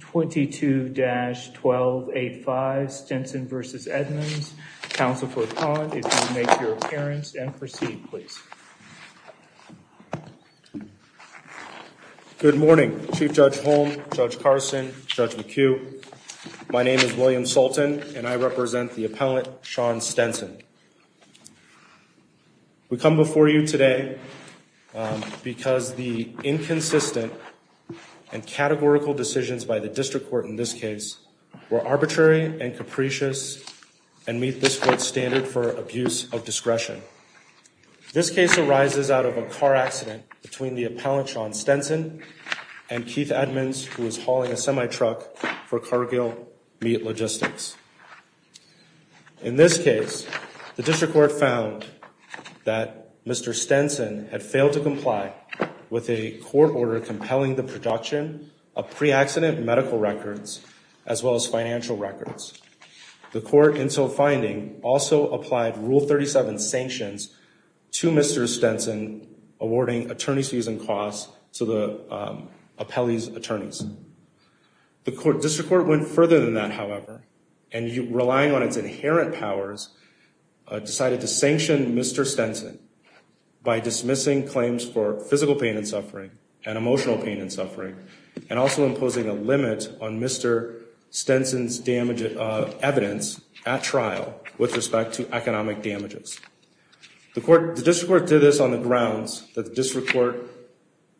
22-1285 Stenson v. Edmonds. Counsel for the client, if you would make your appearance and proceed, please. Good morning, Chief Judge Holm, Judge Carson, Judge McHugh. My name is William Sultan and I represent the appellant, Sean Stenson. We come before you today because the inconsistent and categorical decisions by the district court in this case were arbitrary and capricious and meet this court's standard for abuse of discretion. This case arises out of a car accident between the appellant, Sean Stenson, and Keith Edmonds, who was hauling a semi-truck for Cargill Meat Logistics. In this case, the district court found that Mr. Stenson had failed to comply with a court order compelling the production of pre-accident medical records as well as financial records. The court, in so finding, also applied Rule 37 sanctions to Mr. Stenson, awarding attorney's fees and costs to the appellee's attorneys. The district court went further than that, however, and relying on its inherent powers, decided to sanction Mr. Stenson by dismissing claims for physical pain and suffering and emotional pain and suffering, and also imposing a limit on Mr. Stenson's evidence at trial with respect to economic damages. The district court did this on the grounds that the district court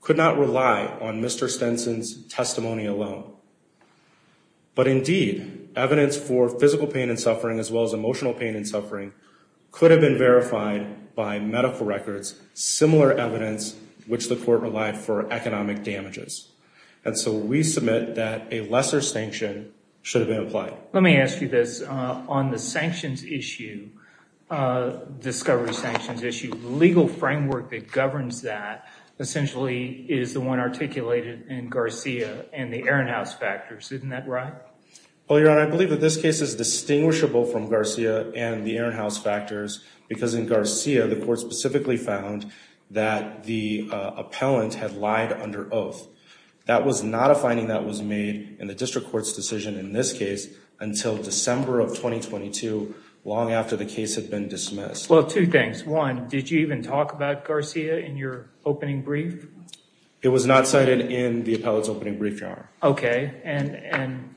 could not rely on Mr. Stenson's testimony alone. But indeed, evidence for physical pain and suffering as well as emotional pain and suffering could have been verified by medical records, similar evidence which the court relied for economic damages. And so we submit that a lesser sanction should have been applied. Let me ask you this. On the sanctions issue, discovery sanctions issue, the legal framework that governs that essentially is the one articulated in Garcia and the Ehrenhaus factors. Isn't that right? Well, Your Honor, I believe that this case is distinguishable from Garcia and the Ehrenhaus factors because in Garcia, the court specifically found that the appellant had lied under oath. That was not a finding that was made in the district court's decision in this case until December of 2022, long after the case had been dismissed. Well, two things. One, did you even talk about Garcia in your opening brief? It was not cited in the appellant's opening brief, Your Honor. Okay. And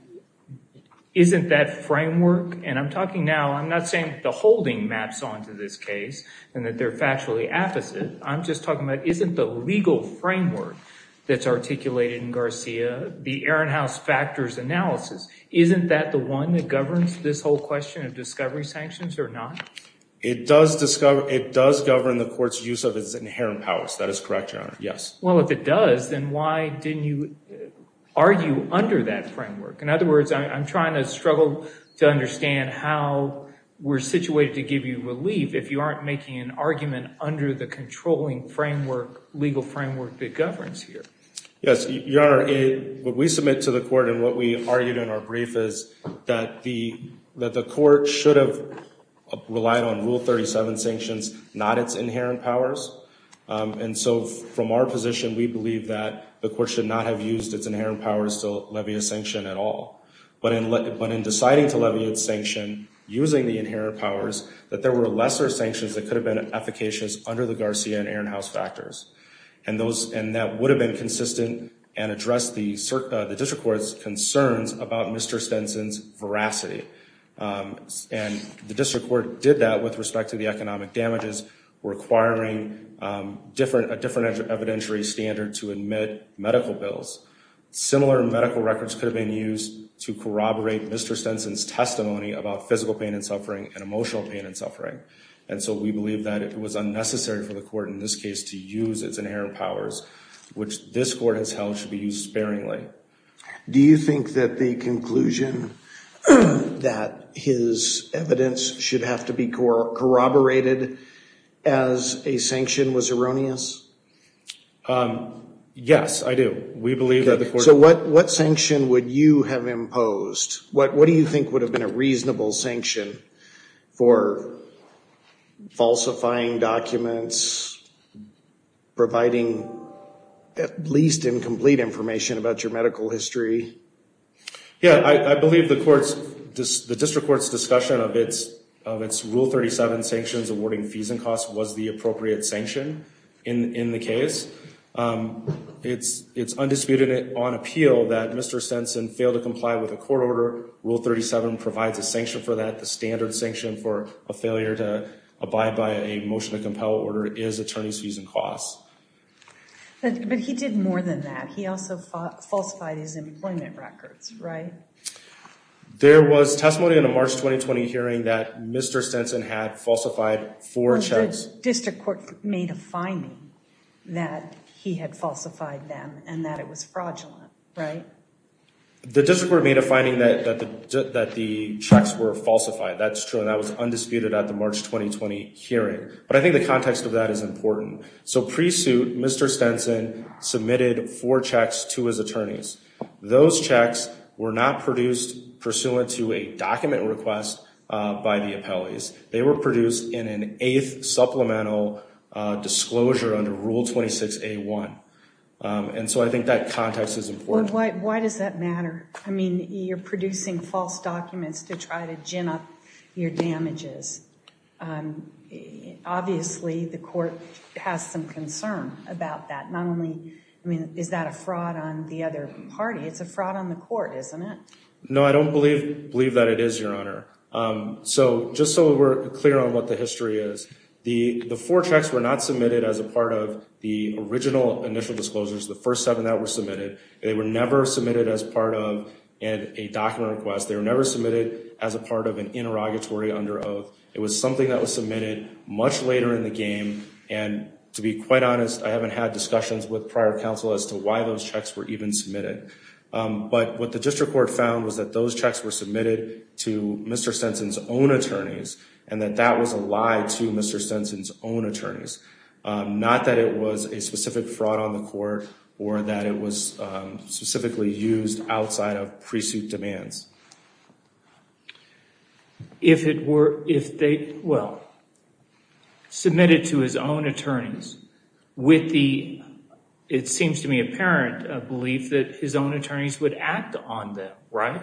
isn't that framework, and I'm talking now, I'm not saying the holding maps onto this case and that they're factually opposite. I'm just talking about isn't the legal framework that's articulated in Garcia, the Ehrenhaus factors analysis, isn't that the one that governs this whole question of discovery sanctions or not? It does discover, it does govern the court's use of its inherent powers. That is correct, Your Honor. Yes. Well, if it does, then why didn't you argue under that framework? In other words, I'm trying to struggle to understand how we're situated to give you relief if you aren't making an argument under the controlling legal framework that governs here. Yes. Your Honor, what we submit to the court and what we argued in our brief is that the court should have relied on Rule 37 sanctions, not its inherent powers. And so from our position, we believe that the court should not have used its inherent powers to levy a sanction at all. But in deciding to levy its sanction using the inherent powers, that there were lesser sanctions that could have been efficacious under the Garcia and Ehrenhaus factors. And that would have been consistent and addressed the district court's concerns about Mr. Stenson's veracity. And the district court did that with respect to the economic damages requiring a different evidentiary standard to admit medical bills. Similar medical records could have been used to corroborate Mr. Stenson's testimony about physical pain and suffering and emotional pain and suffering. And so we believe that it was unnecessary for the court in this case to use its inherent powers, which this court has held should be used sparingly. Do you think that the conclusion that his evidence should have to be corroborated as a sanction was erroneous? Yes, I do. We believe that the court... Yeah, I believe the district court's discussion of its Rule 37 sanctions awarding fees and costs was the appropriate sanction in the case. It's undisputed on appeal that Mr. Stenson failed to comply with a court order. Rule 37 provides a sanction for that. The standard sanction for a failure to abide by a motion to compel order is attorney's fees and costs. But he did more than that. He also falsified his employment records, right? There was testimony in a March 2020 hearing that Mr. Stenson had falsified four checks. The district court made a finding that he had falsified them and that it was fraudulent, right? The district court made a finding that the checks were falsified. That's true, and that was undisputed at the March 2020 hearing. But I think the context of that is important. So pre-suit, Mr. Stenson submitted four checks to his attorneys. Those checks were not produced pursuant to a document request by the appellees. They were produced in an eighth supplemental disclosure under Rule 26A1. And so I think that context is important. Why does that matter? I mean, you're producing false documents to try to gin up your damages. Obviously, the court has some concern about that. Not only is that a fraud on the other party, it's a fraud on the court, isn't it? No, I don't believe that it is, Your Honor. So just so we're clear on what the history is, the four checks were not submitted as a part of the original initial disclosures, the first seven that were submitted. They were never submitted as part of a document request. They were never submitted as a part of an interrogatory under oath. It was something that was submitted much later in the game. And to be quite honest, I haven't had discussions with prior counsel as to why those checks were even submitted. But what the district court found was that those checks were submitted to Mr. Stenson's own attorneys, and that that was a lie to Mr. Stenson's own attorneys. Not that it was a specific fraud on the court or that it was specifically used outside of pre-suit demands. If it were, if they, well, submitted to his own attorneys with the, it seems to me, apparent belief that his own attorneys would act on them, right?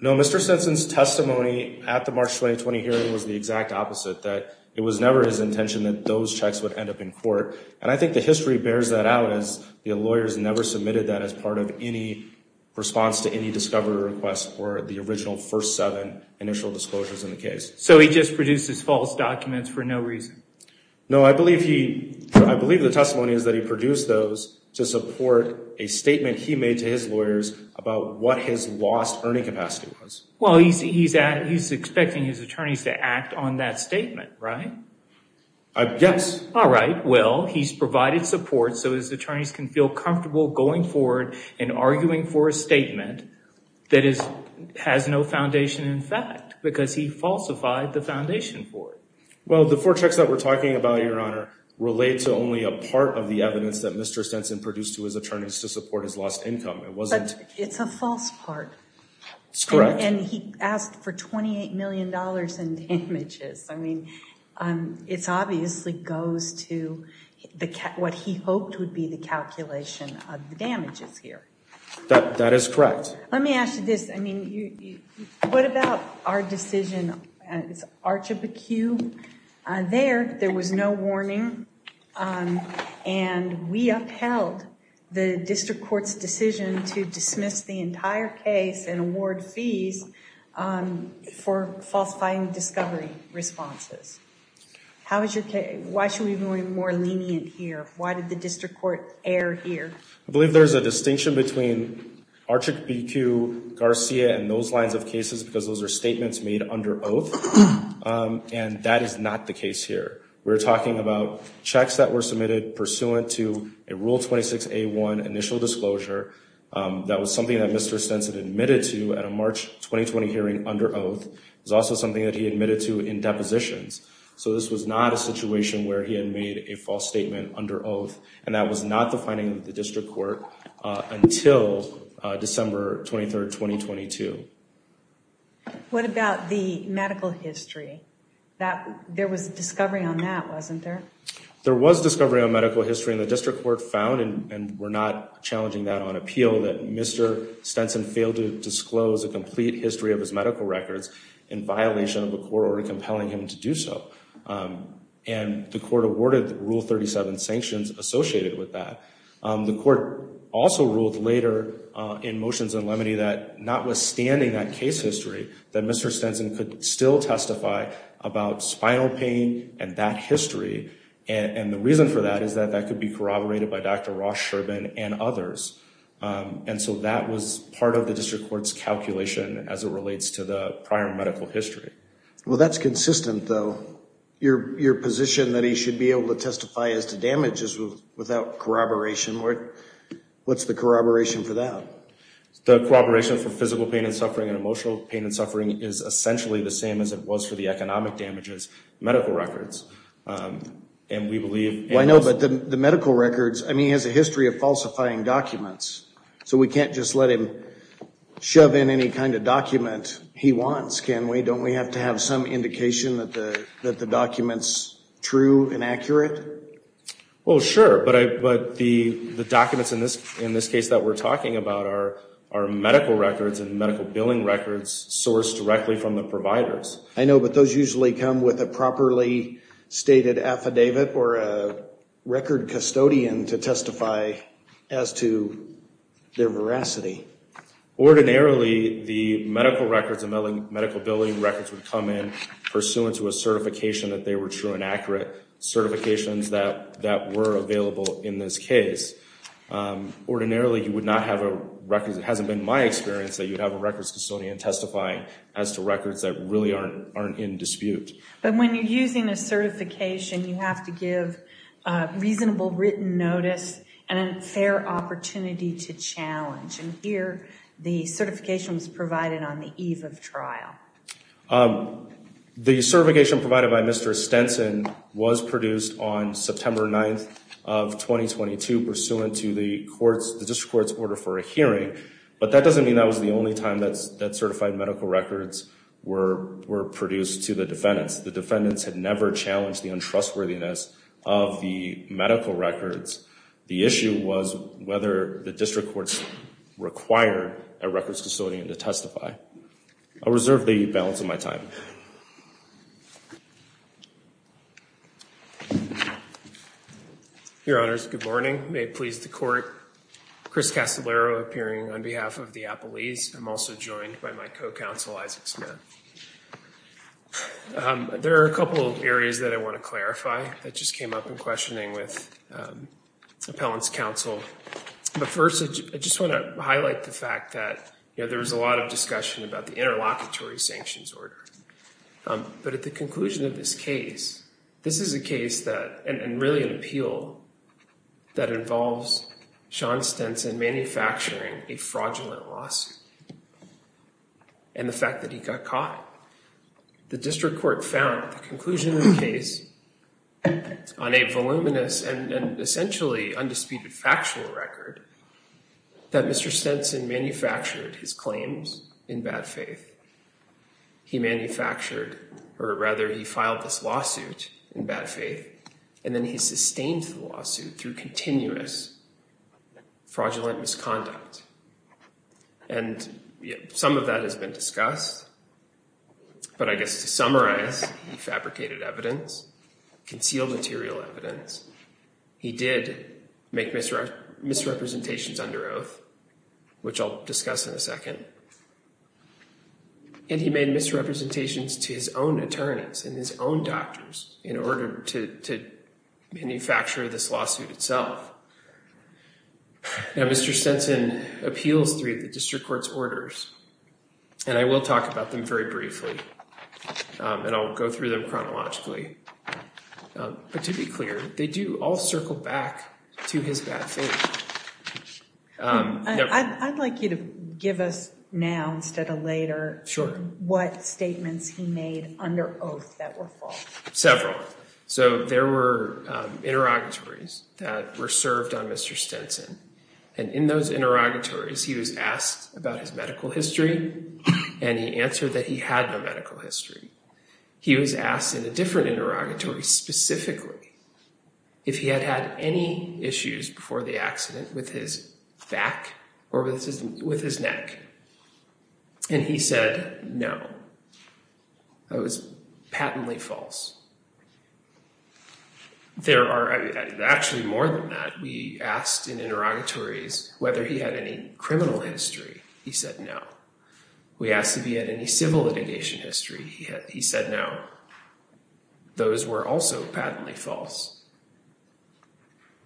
No, Mr. Stenson's testimony at the March 2020 hearing was the exact opposite, that it was never his intention that those checks would end up in court. And I think the history bears that out as the lawyers never submitted that as part of any response to any discovery request or the original first seven initial disclosures in the case. So he just produced his false documents for no reason? No, I believe he, I believe the testimony is that he produced those to support a statement he made to his lawyers about what his lost earning capacity was. Well, he's expecting his attorneys to act on that statement, right? Yes. All right, well, he's provided support so his attorneys can feel comfortable going forward and arguing for a statement that has no foundation in fact, because he falsified the foundation for it. Well, the four checks that we're talking about, Your Honor, relate to only a part of the evidence that Mr. Stenson produced to his attorneys to support his lost income. It's a false part. That's correct. And he asked for $28 million in damages. I mean, it's obviously goes to what he hoped would be the calculation of the damages here. That is correct. Let me ask you this. I mean, what about our decision, it's Archibuque there, there was no warning. And we upheld the district court's decision to dismiss the entire case and award fees for falsifying discovery responses. How is your case, why should we be more lenient here? Why did the district court err here? I believe there's a distinction between Archibuque, Garcia and those lines of cases because those are statements made under oath. And that is not the case here. We're talking about checks that were submitted pursuant to a Rule 26A1 initial disclosure. That was something that Mr. Stenson admitted to at a March 2020 hearing under oath. It was also something that he admitted to in depositions. So this was not a situation where he had made a false statement under oath. And that was not the finding of the district court until December 23rd, 2022. What about the medical history? There was a discovery on that, wasn't there? There was discovery on medical history and the district court found, and we're not challenging that on appeal, that Mr. Stenson failed to disclose a complete history of his medical records in violation of a court order compelling him to do so. And the court awarded Rule 37 sanctions associated with that. The court also ruled later in motions in Lemony that notwithstanding that case history, that Mr. Stenson could still testify about spinal pain and that history. And the reason for that is that that could be corroborated by Dr. Ross-Sherbin and others. And so that was part of the district court's calculation as it relates to the prior medical history. Well, that's consistent, though. Your position that he should be able to testify as to damages without corroboration, what's the corroboration for that? The corroboration for physical pain and suffering and emotional pain and suffering is essentially the same as it was for the economic damages medical records. And we believe— I know, but the medical records, I mean, he has a history of falsifying documents. So we can't just let him shove in any kind of document he wants, can we? Don't we have to have some indication that the document's true and accurate? Well, sure, but the documents in this case that we're talking about are medical records and medical billing records sourced directly from the providers. I know, but those usually come with a properly stated affidavit or a record custodian to testify as to their veracity. Ordinarily, the medical records and medical billing records would come in pursuant to a certification that they were true and accurate, certifications that were available in this case. Ordinarily, you would not have a record—it hasn't been my experience that you'd have a records custodian testifying as to records that really aren't in dispute. But when you're using a certification, you have to give reasonable written notice and a fair opportunity to challenge. And here, the certification was provided on the eve of trial. The certification provided by Mr. Stenson was produced on September 9th of 2022 pursuant to the district court's order for a hearing. But that doesn't mean that was the only time that certified medical records were produced to the defendants. The defendants had never challenged the untrustworthiness of the medical records. The issue was whether the district courts required a records custodian to testify. I'll reserve the balance of my time. Your Honors, good morning. May it please the court. Chris Castellaro appearing on behalf of the Appellees. I'm also joined by my co-counsel, Isaac Smith. There are a couple areas that I want to clarify that just came up in questioning with Appellant's counsel. First, I just want to highlight the fact that there was a lot of discussion about the interlocutory sanctions order. But at the conclusion of this case, this is a case that, and really an appeal, that involves Sean Stenson manufacturing a fraudulent lawsuit and the fact that he got caught. The district court found at the conclusion of the case on a voluminous and essentially undisputed factual record, that Mr. Stenson manufactured his claims in bad faith. He manufactured, or rather, he filed this lawsuit in bad faith and then he sustained the lawsuit through continuous fraudulent misconduct. And some of that has been discussed, but I guess to summarize, he fabricated evidence, concealed material evidence. He did make misrepresentations under oath, which I'll discuss in a second. And he made misrepresentations to his own attorneys and his own doctors in order to manufacture this lawsuit itself. Now, Mr. Stenson appeals three of the district court's orders and I will talk about them very briefly and I'll go through them chronologically. But to be clear, they do all circle back to his bad faith. I'd like you to give us now instead of later what statements he made under oath that were false. Several. So there were interrogatories that were served on Mr. Stenson and in those interrogatories he was asked about his medical history and he answered that he had no medical history. He was asked in a different interrogatory specifically if he had had any issues before the accident with his back or with his neck. And he said no. That was patently false. There are actually more than that. We asked in interrogatories whether he had any criminal history. He said no. We asked if he had any civil litigation history. He said no. Those were also patently false.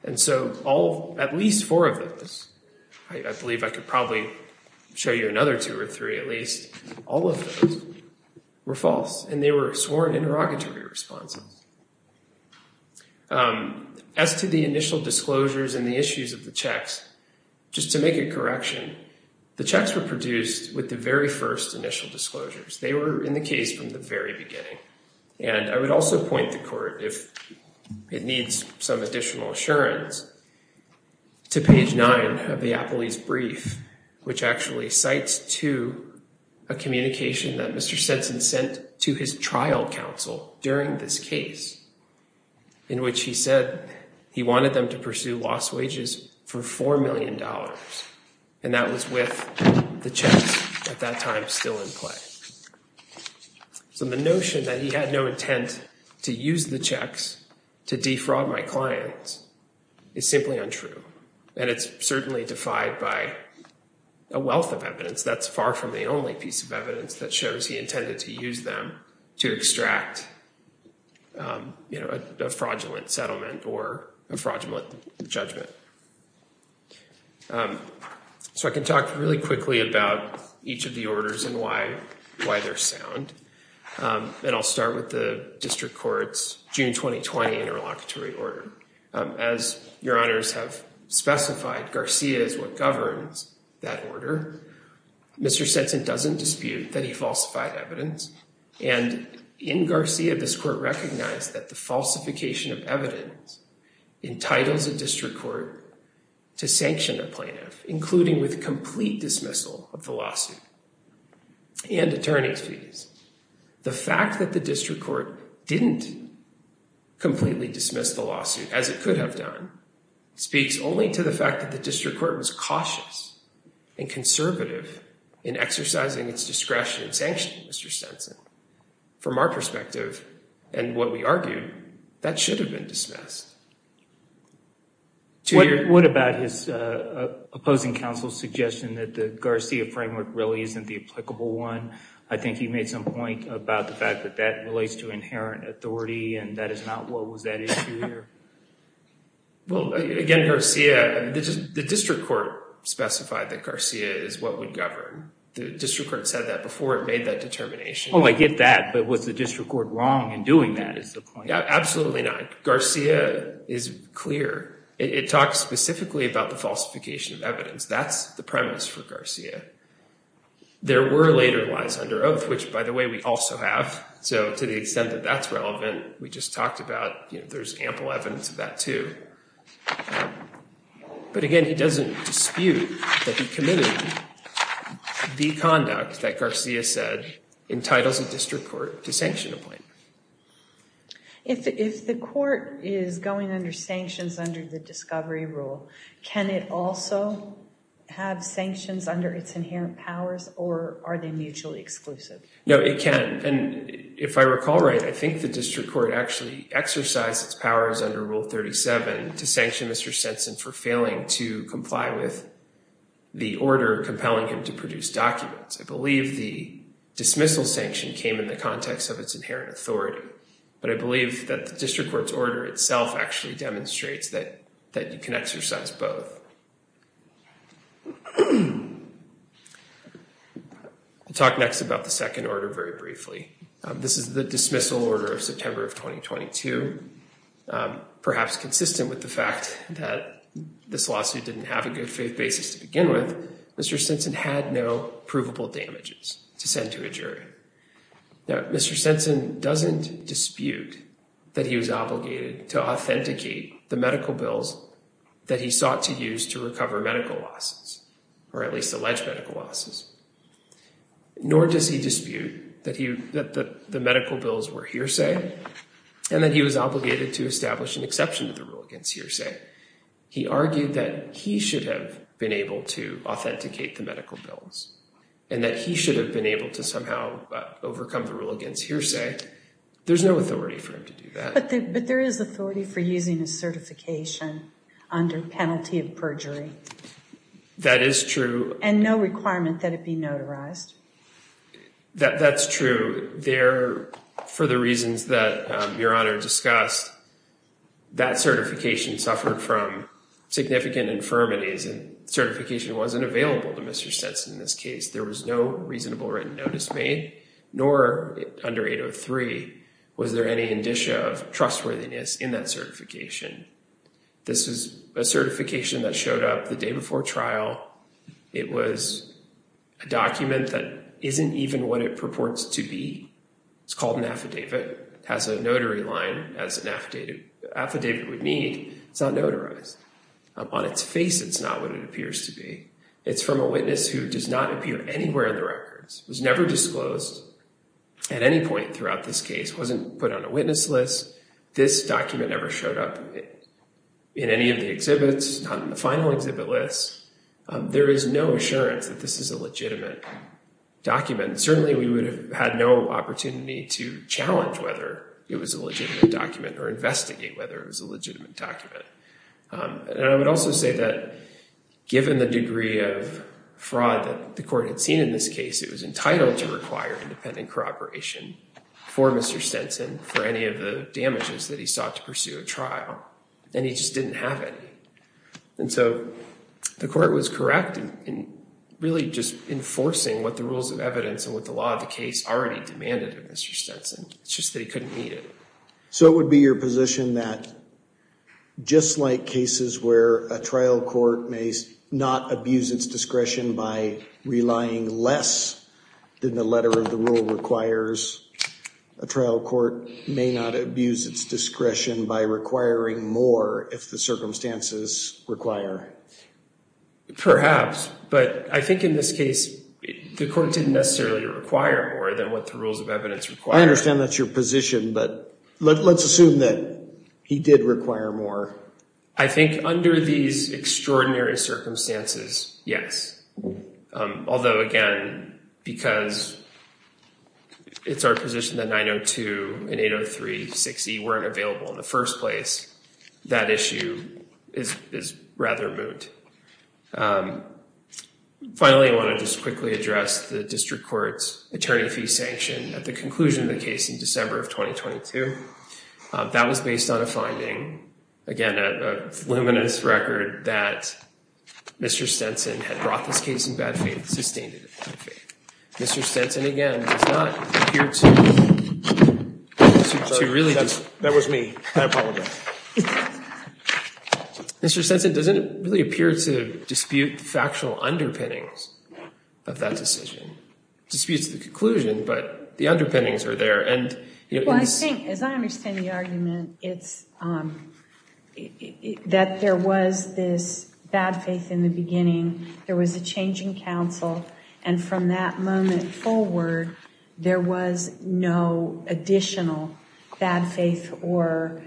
And so all, at least four of those, I believe I could probably show you another two or three at least, all of those were false and they were sworn interrogatory responses. As to the initial disclosures and the issues of the checks, just to make a correction, the checks were produced with the very first initial disclosures. They were in the case from the very beginning. And I would also point the Court, if it needs some additional assurance, to page 9 of the Apolli's brief, which actually cites to a communication that Mr. Stetson sent to his trial counsel during this case, in which he said he wanted them to pursue lost wages for $4 million. And that was with the checks at that time still in play. So the notion that he had no intent to use the checks to defraud my clients is simply untrue. And it's certainly defied by a wealth of evidence. That's far from the only piece of evidence that shows he intended to use them to extract, you know, a fraudulent settlement or a fraudulent judgment. So I can talk really quickly about each of the orders and why they're sound. And I'll start with the District Court's June 2020 interlocutory order. As Your Honors have specified, Garcia is what governs that order. Mr. Stetson doesn't dispute that he falsified evidence. And in Garcia, this Court recognized that the falsification of evidence entitles a District Court to sanction a plaintiff, The fact that the District Court didn't completely dismiss the lawsuit, as it could have done, speaks only to the fact that the District Court was cautious and conservative in exercising its discretion in sanctioning Mr. Stetson. From our perspective and what we argued, that should have been dismissed. What about his opposing counsel's suggestion that the Garcia framework really isn't the applicable one? I think he made some point about the fact that that relates to inherent authority and that is not what was that issue here. Well, again, Garcia, the District Court specified that Garcia is what would govern. The District Court said that before it made that determination. Oh, I get that. But was the District Court wrong in doing that is the point. Absolutely not. Garcia is clear. It talks specifically about the falsification of evidence. That's the premise for Garcia. There were later lies under oath, which by the way, we also have. So to the extent that that's relevant, we just talked about, you know, there's ample evidence of that too. But again, he doesn't dispute that he committed the conduct that Garcia said entitles a District Court to sanction a plaintiff. If the court is going under sanctions under the discovery rule, can it also have sanctions under its inherent powers or are they mutually exclusive? No, it can. And if I recall right, I think the District Court actually exercised its powers under rule 37 to sanction Mr. Stinson for failing to comply with the order compelling him to produce documents. I believe the dismissal sanction came in the context of its inherent authority, but I believe that the District Court's order itself actually demonstrates that you can exercise both. I'll talk next about the second order very briefly. This is the dismissal order of September of 2022. Perhaps consistent with the fact that this lawsuit didn't have a good faith basis to begin with, Mr. Stinson had no provable damages to send to a jury. Now, Mr. Stinson doesn't dispute that he was obligated to authenticate the medical bills that he sought to use to recover medical losses, or at least alleged medical losses. Nor does he dispute that the medical bills were hearsay and that he was obligated to establish an exception to the rule against hearsay. He argued that he should have been able to authenticate the medical bills and that he should have been able to somehow overcome the rule against hearsay. There's no authority for him to do that. But there is authority for using a certification under penalty of perjury. That is true. And no requirement that it be notarized. That's true. There, for the reasons that Your Honor discussed, that certification suffered from significant infirmities and certification wasn't available to Mr. Stinson in this case. There was no reasonable written notice made, nor under 803, was there any indicia of trustworthiness in that certification. This is a certification that showed up the day before trial. It was a document that isn't even what it purports to be. It's called an affidavit. It has a notary line, as an affidavit would need. It's not notarized. Upon its face, it's not what it appears to be. It's from a witness who does not appear anywhere in the records, was never disclosed at any point throughout this case, wasn't put on a witness list. This document never showed up in any of the exhibits, not in the final exhibit list. There is no assurance that this is a legitimate document. Certainly, we would have had no opportunity to challenge whether it was a legitimate document or investigate whether it was a legitimate document. And I would also say that given the degree of fraud that the court had seen in this case, it was entitled to require independent corroboration for Mr. Stenson for any of the damages that he sought to pursue at trial. And he just didn't have any. And so the court was correct in really just enforcing what the rules of evidence and what the law of the case already demanded of Mr. Stenson. It's just that he couldn't meet it. So it would be your position that just like cases where a trial court may not abuse its discretion by relying less than the letter of the rule requires, a trial court may not abuse its discretion by requiring more if the circumstances require it. Perhaps, but I think in this case, the court didn't necessarily require more than what the rules of evidence required. I understand that's your position, but let's assume that he did require more. I think under these extraordinary circumstances, yes. Although, again, because it's our position that 902 and 803, 6E weren't available in the first place, that issue is rather moot. Finally, I want to just quickly address the district court's attorney fee sanction at the conclusion of the case in December of 2022. That was based on a finding, again, a luminous record that Mr. Stenson had brought this case in bad faith, sustained it in bad faith. Mr. Stenson, again, does not appear to really dispute. That was me. I apologize. Mr. Stenson doesn't really appear to dispute the factual underpinnings of that decision. Disputes the conclusion, but the underpinnings are there. As I understand the argument, it's that there was this bad faith in the beginning. There was a change in counsel. From that moment forward, there was no additional bad faith or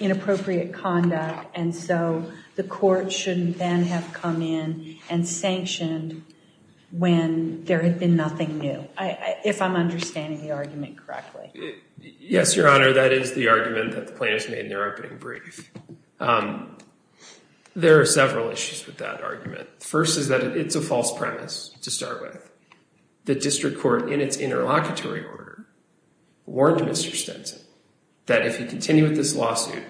inappropriate conduct. So the court shouldn't then have come in and sanctioned when there had been nothing new, if I'm understanding the argument correctly. Yes, Your Honor. That is the argument that the plaintiffs made in their opening brief. There are several issues with that argument. First is that it's a false premise to start with. The district court, in its interlocutory order, warned Mr. Stenson that if he continued with this lawsuit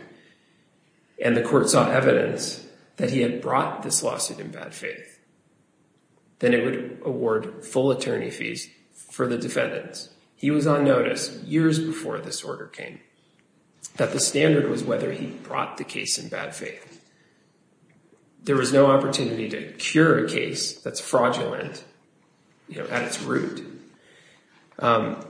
and the court saw evidence that he had brought this lawsuit in bad faith, then it would award full attorney fees for the defendants. He was on notice years before this order came that the standard was whether he brought the case in bad faith. There was no opportunity to cure a case that's fraudulent at its root. Nor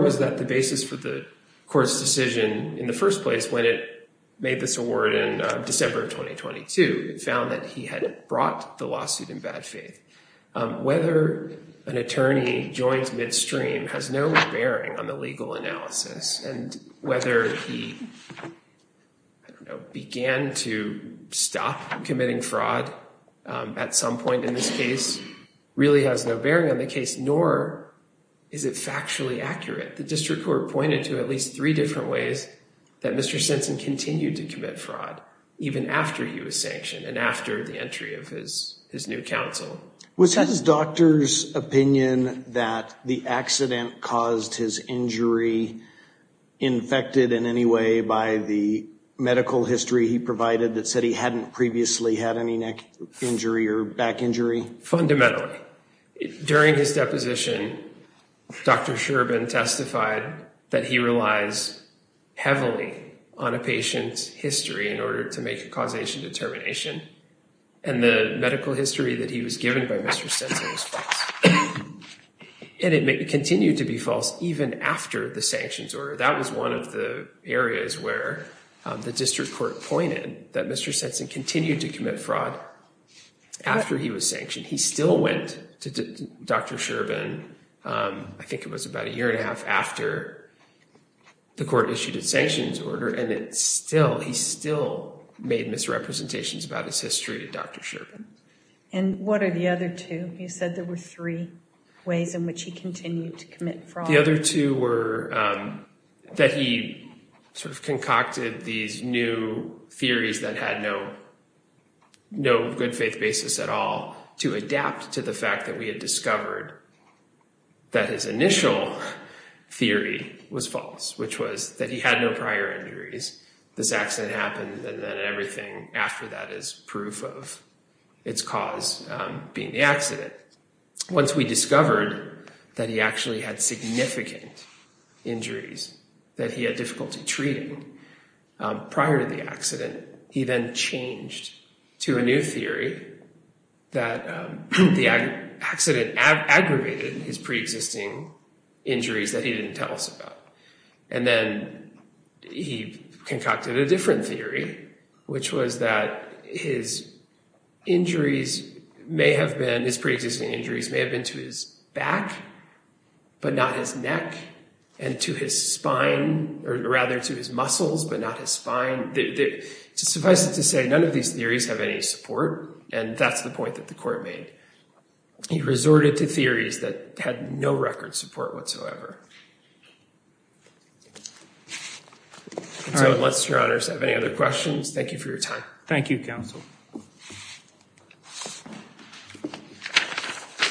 was that the basis for the court's decision in the first place when it made this award in December of 2022. It found that he had brought the lawsuit in bad faith. Whether an attorney joins midstream has no bearing on the legal analysis, and whether he began to stop committing fraud at some point in this case really has no bearing on the case, nor is it factually accurate. The district court pointed to at least three different ways that Mr. Stenson continued to commit fraud even after he was sanctioned and after the entry of his new counsel. Was his doctor's opinion that the accident caused his injury infected in any way by the medical history he provided that said he hadn't previously had any neck injury or back injury? Fundamentally. During his deposition, Dr. Shcherban testified that he relies heavily on a patient's history in order to make a causation determination, and the medical history that he was given by Mr. Stenson was false. And it continued to be false even after the sanctions order. That was one of the areas where the district court pointed that Mr. Stenson continued to commit fraud after he was sanctioned. He still went to Dr. Shcherban, I think it was about a year and a half, after the court issued a sanctions order, and he still made misrepresentations about his history to Dr. Shcherban. And what are the other two? You said there were three ways in which he continued to commit fraud. The other two were that he sort of concocted these new theories that had no good faith basis at all to adapt to the fact that we had discovered that his initial theory was false, which was that he had no prior injuries, this accident happened, and then everything after that is proof of its cause being the accident. Once we discovered that he actually had significant injuries, that he had difficulty treating prior to the accident, he then changed to a new theory that the accident aggravated his pre-existing injuries that he didn't tell us about. And then he concocted a different theory, which was that his injuries may have been, to his neck, but not his neck, and to his spine, or rather to his muscles, but not his spine. Suffice it to say, none of these theories have any support, and that's the point that the court made. He resorted to theories that had no record support whatsoever. So unless your honors have any other questions, thank you for your time. Thank you, counsel.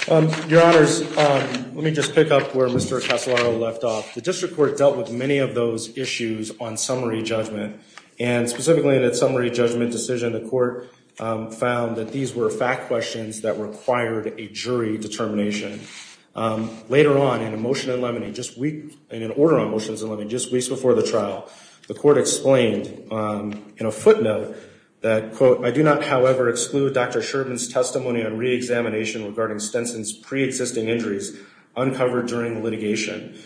Your honors, let me just pick up where Mr. Casselaro left off. The district court dealt with many of those issues on summary judgment, and specifically in that summary judgment decision, the court found that these were fact questions that required a jury determination. Later on, in a motion in Lemony, just weeks before the trial, the court explained in a footnote that, quote, I do not, however, exclude Dr. Sherman's testimony on re-examination regarding Stenson's pre-existing injuries uncovered during the litigation.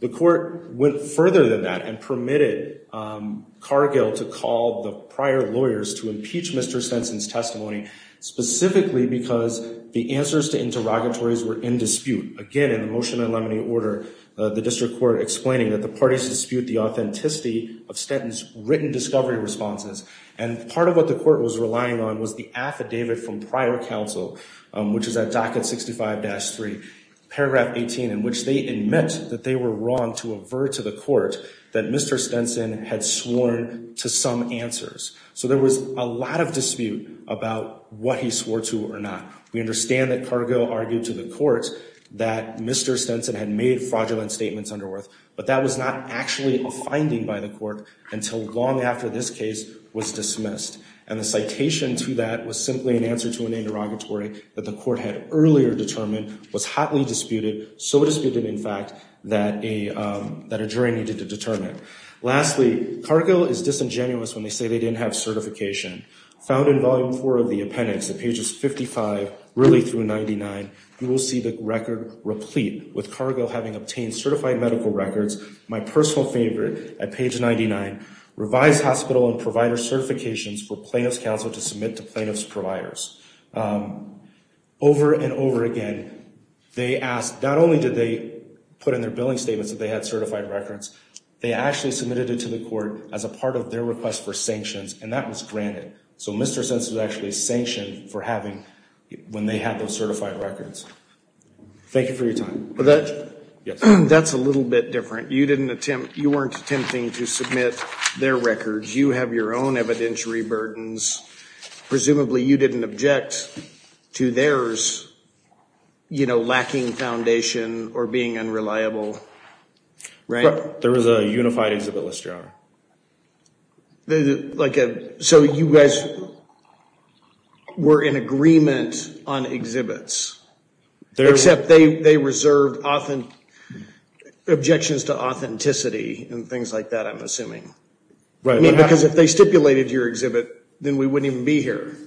The court went further than that and permitted Cargill to call the prior lawyers to impeach Mr. Stenson's testimony, specifically because the answers to interrogatories were in dispute. Again, in the motion in Lemony order, the district court explaining that the parties dispute the authenticity of Stenson's written discovery responses. And part of what the court was relying on was the affidavit from prior counsel, which is at docket 65-3, paragraph 18, in which they admit that they were wrong to avert to the court that Mr. Stenson had sworn to some answers. So there was a lot of dispute about what he swore to or not. We understand that Cargill argued to the court that Mr. Stenson had made fraudulent statements under oath, but that was not actually a finding by the court until long after this case was dismissed. And the citation to that was simply an answer to an interrogatory that the court had earlier determined was hotly disputed, so disputed, in fact, that a jury needed to determine. Lastly, Cargill is disingenuous when they say they didn't have certification. Found in volume four of the appendix at pages 55 really through 99, you will see the record replete with Cargill having obtained certified medical records, my personal favorite, at page 99, revised hospital and provider certifications for plaintiff's counsel to submit to plaintiff's providers. Over and over again, they asked, not only did they put in their billing statements that they had certified records, they actually submitted it to the court as a part of their request for sanctions, and that was granted. So Mr. Stenson was actually sanctioned for having, when they had those certified records. Thank you for your time. That's a little bit different. You weren't attempting to submit their records. You have your own evidentiary burdens. Presumably you didn't object to theirs, you know, lacking foundation or being unreliable, right? There was a unified exhibit list, Your Honor. So you guys were in agreement on exhibits, except they reserved objections to authenticity and things like that, I'm assuming. Right. Because if they stipulated your exhibit, then we wouldn't even be here.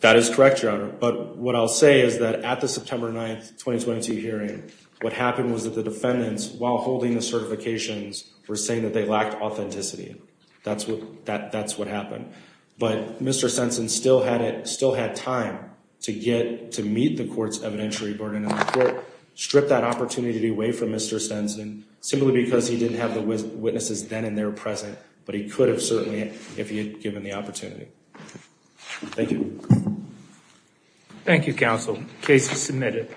That is correct, Your Honor. But what I'll say is that at the September 9, 2022 hearing, what happened was that the defendants, while holding the certifications, were saying that they lacked authenticity. That's what happened. But Mr. Stenson still had time to meet the court's evidentiary burden in the court, strip that opportunity away from Mr. Stenson, simply because he didn't have the witnesses then and there present, but he could have certainly if he had given the opportunity. Thank you. Thank you, counsel. Case is submitted.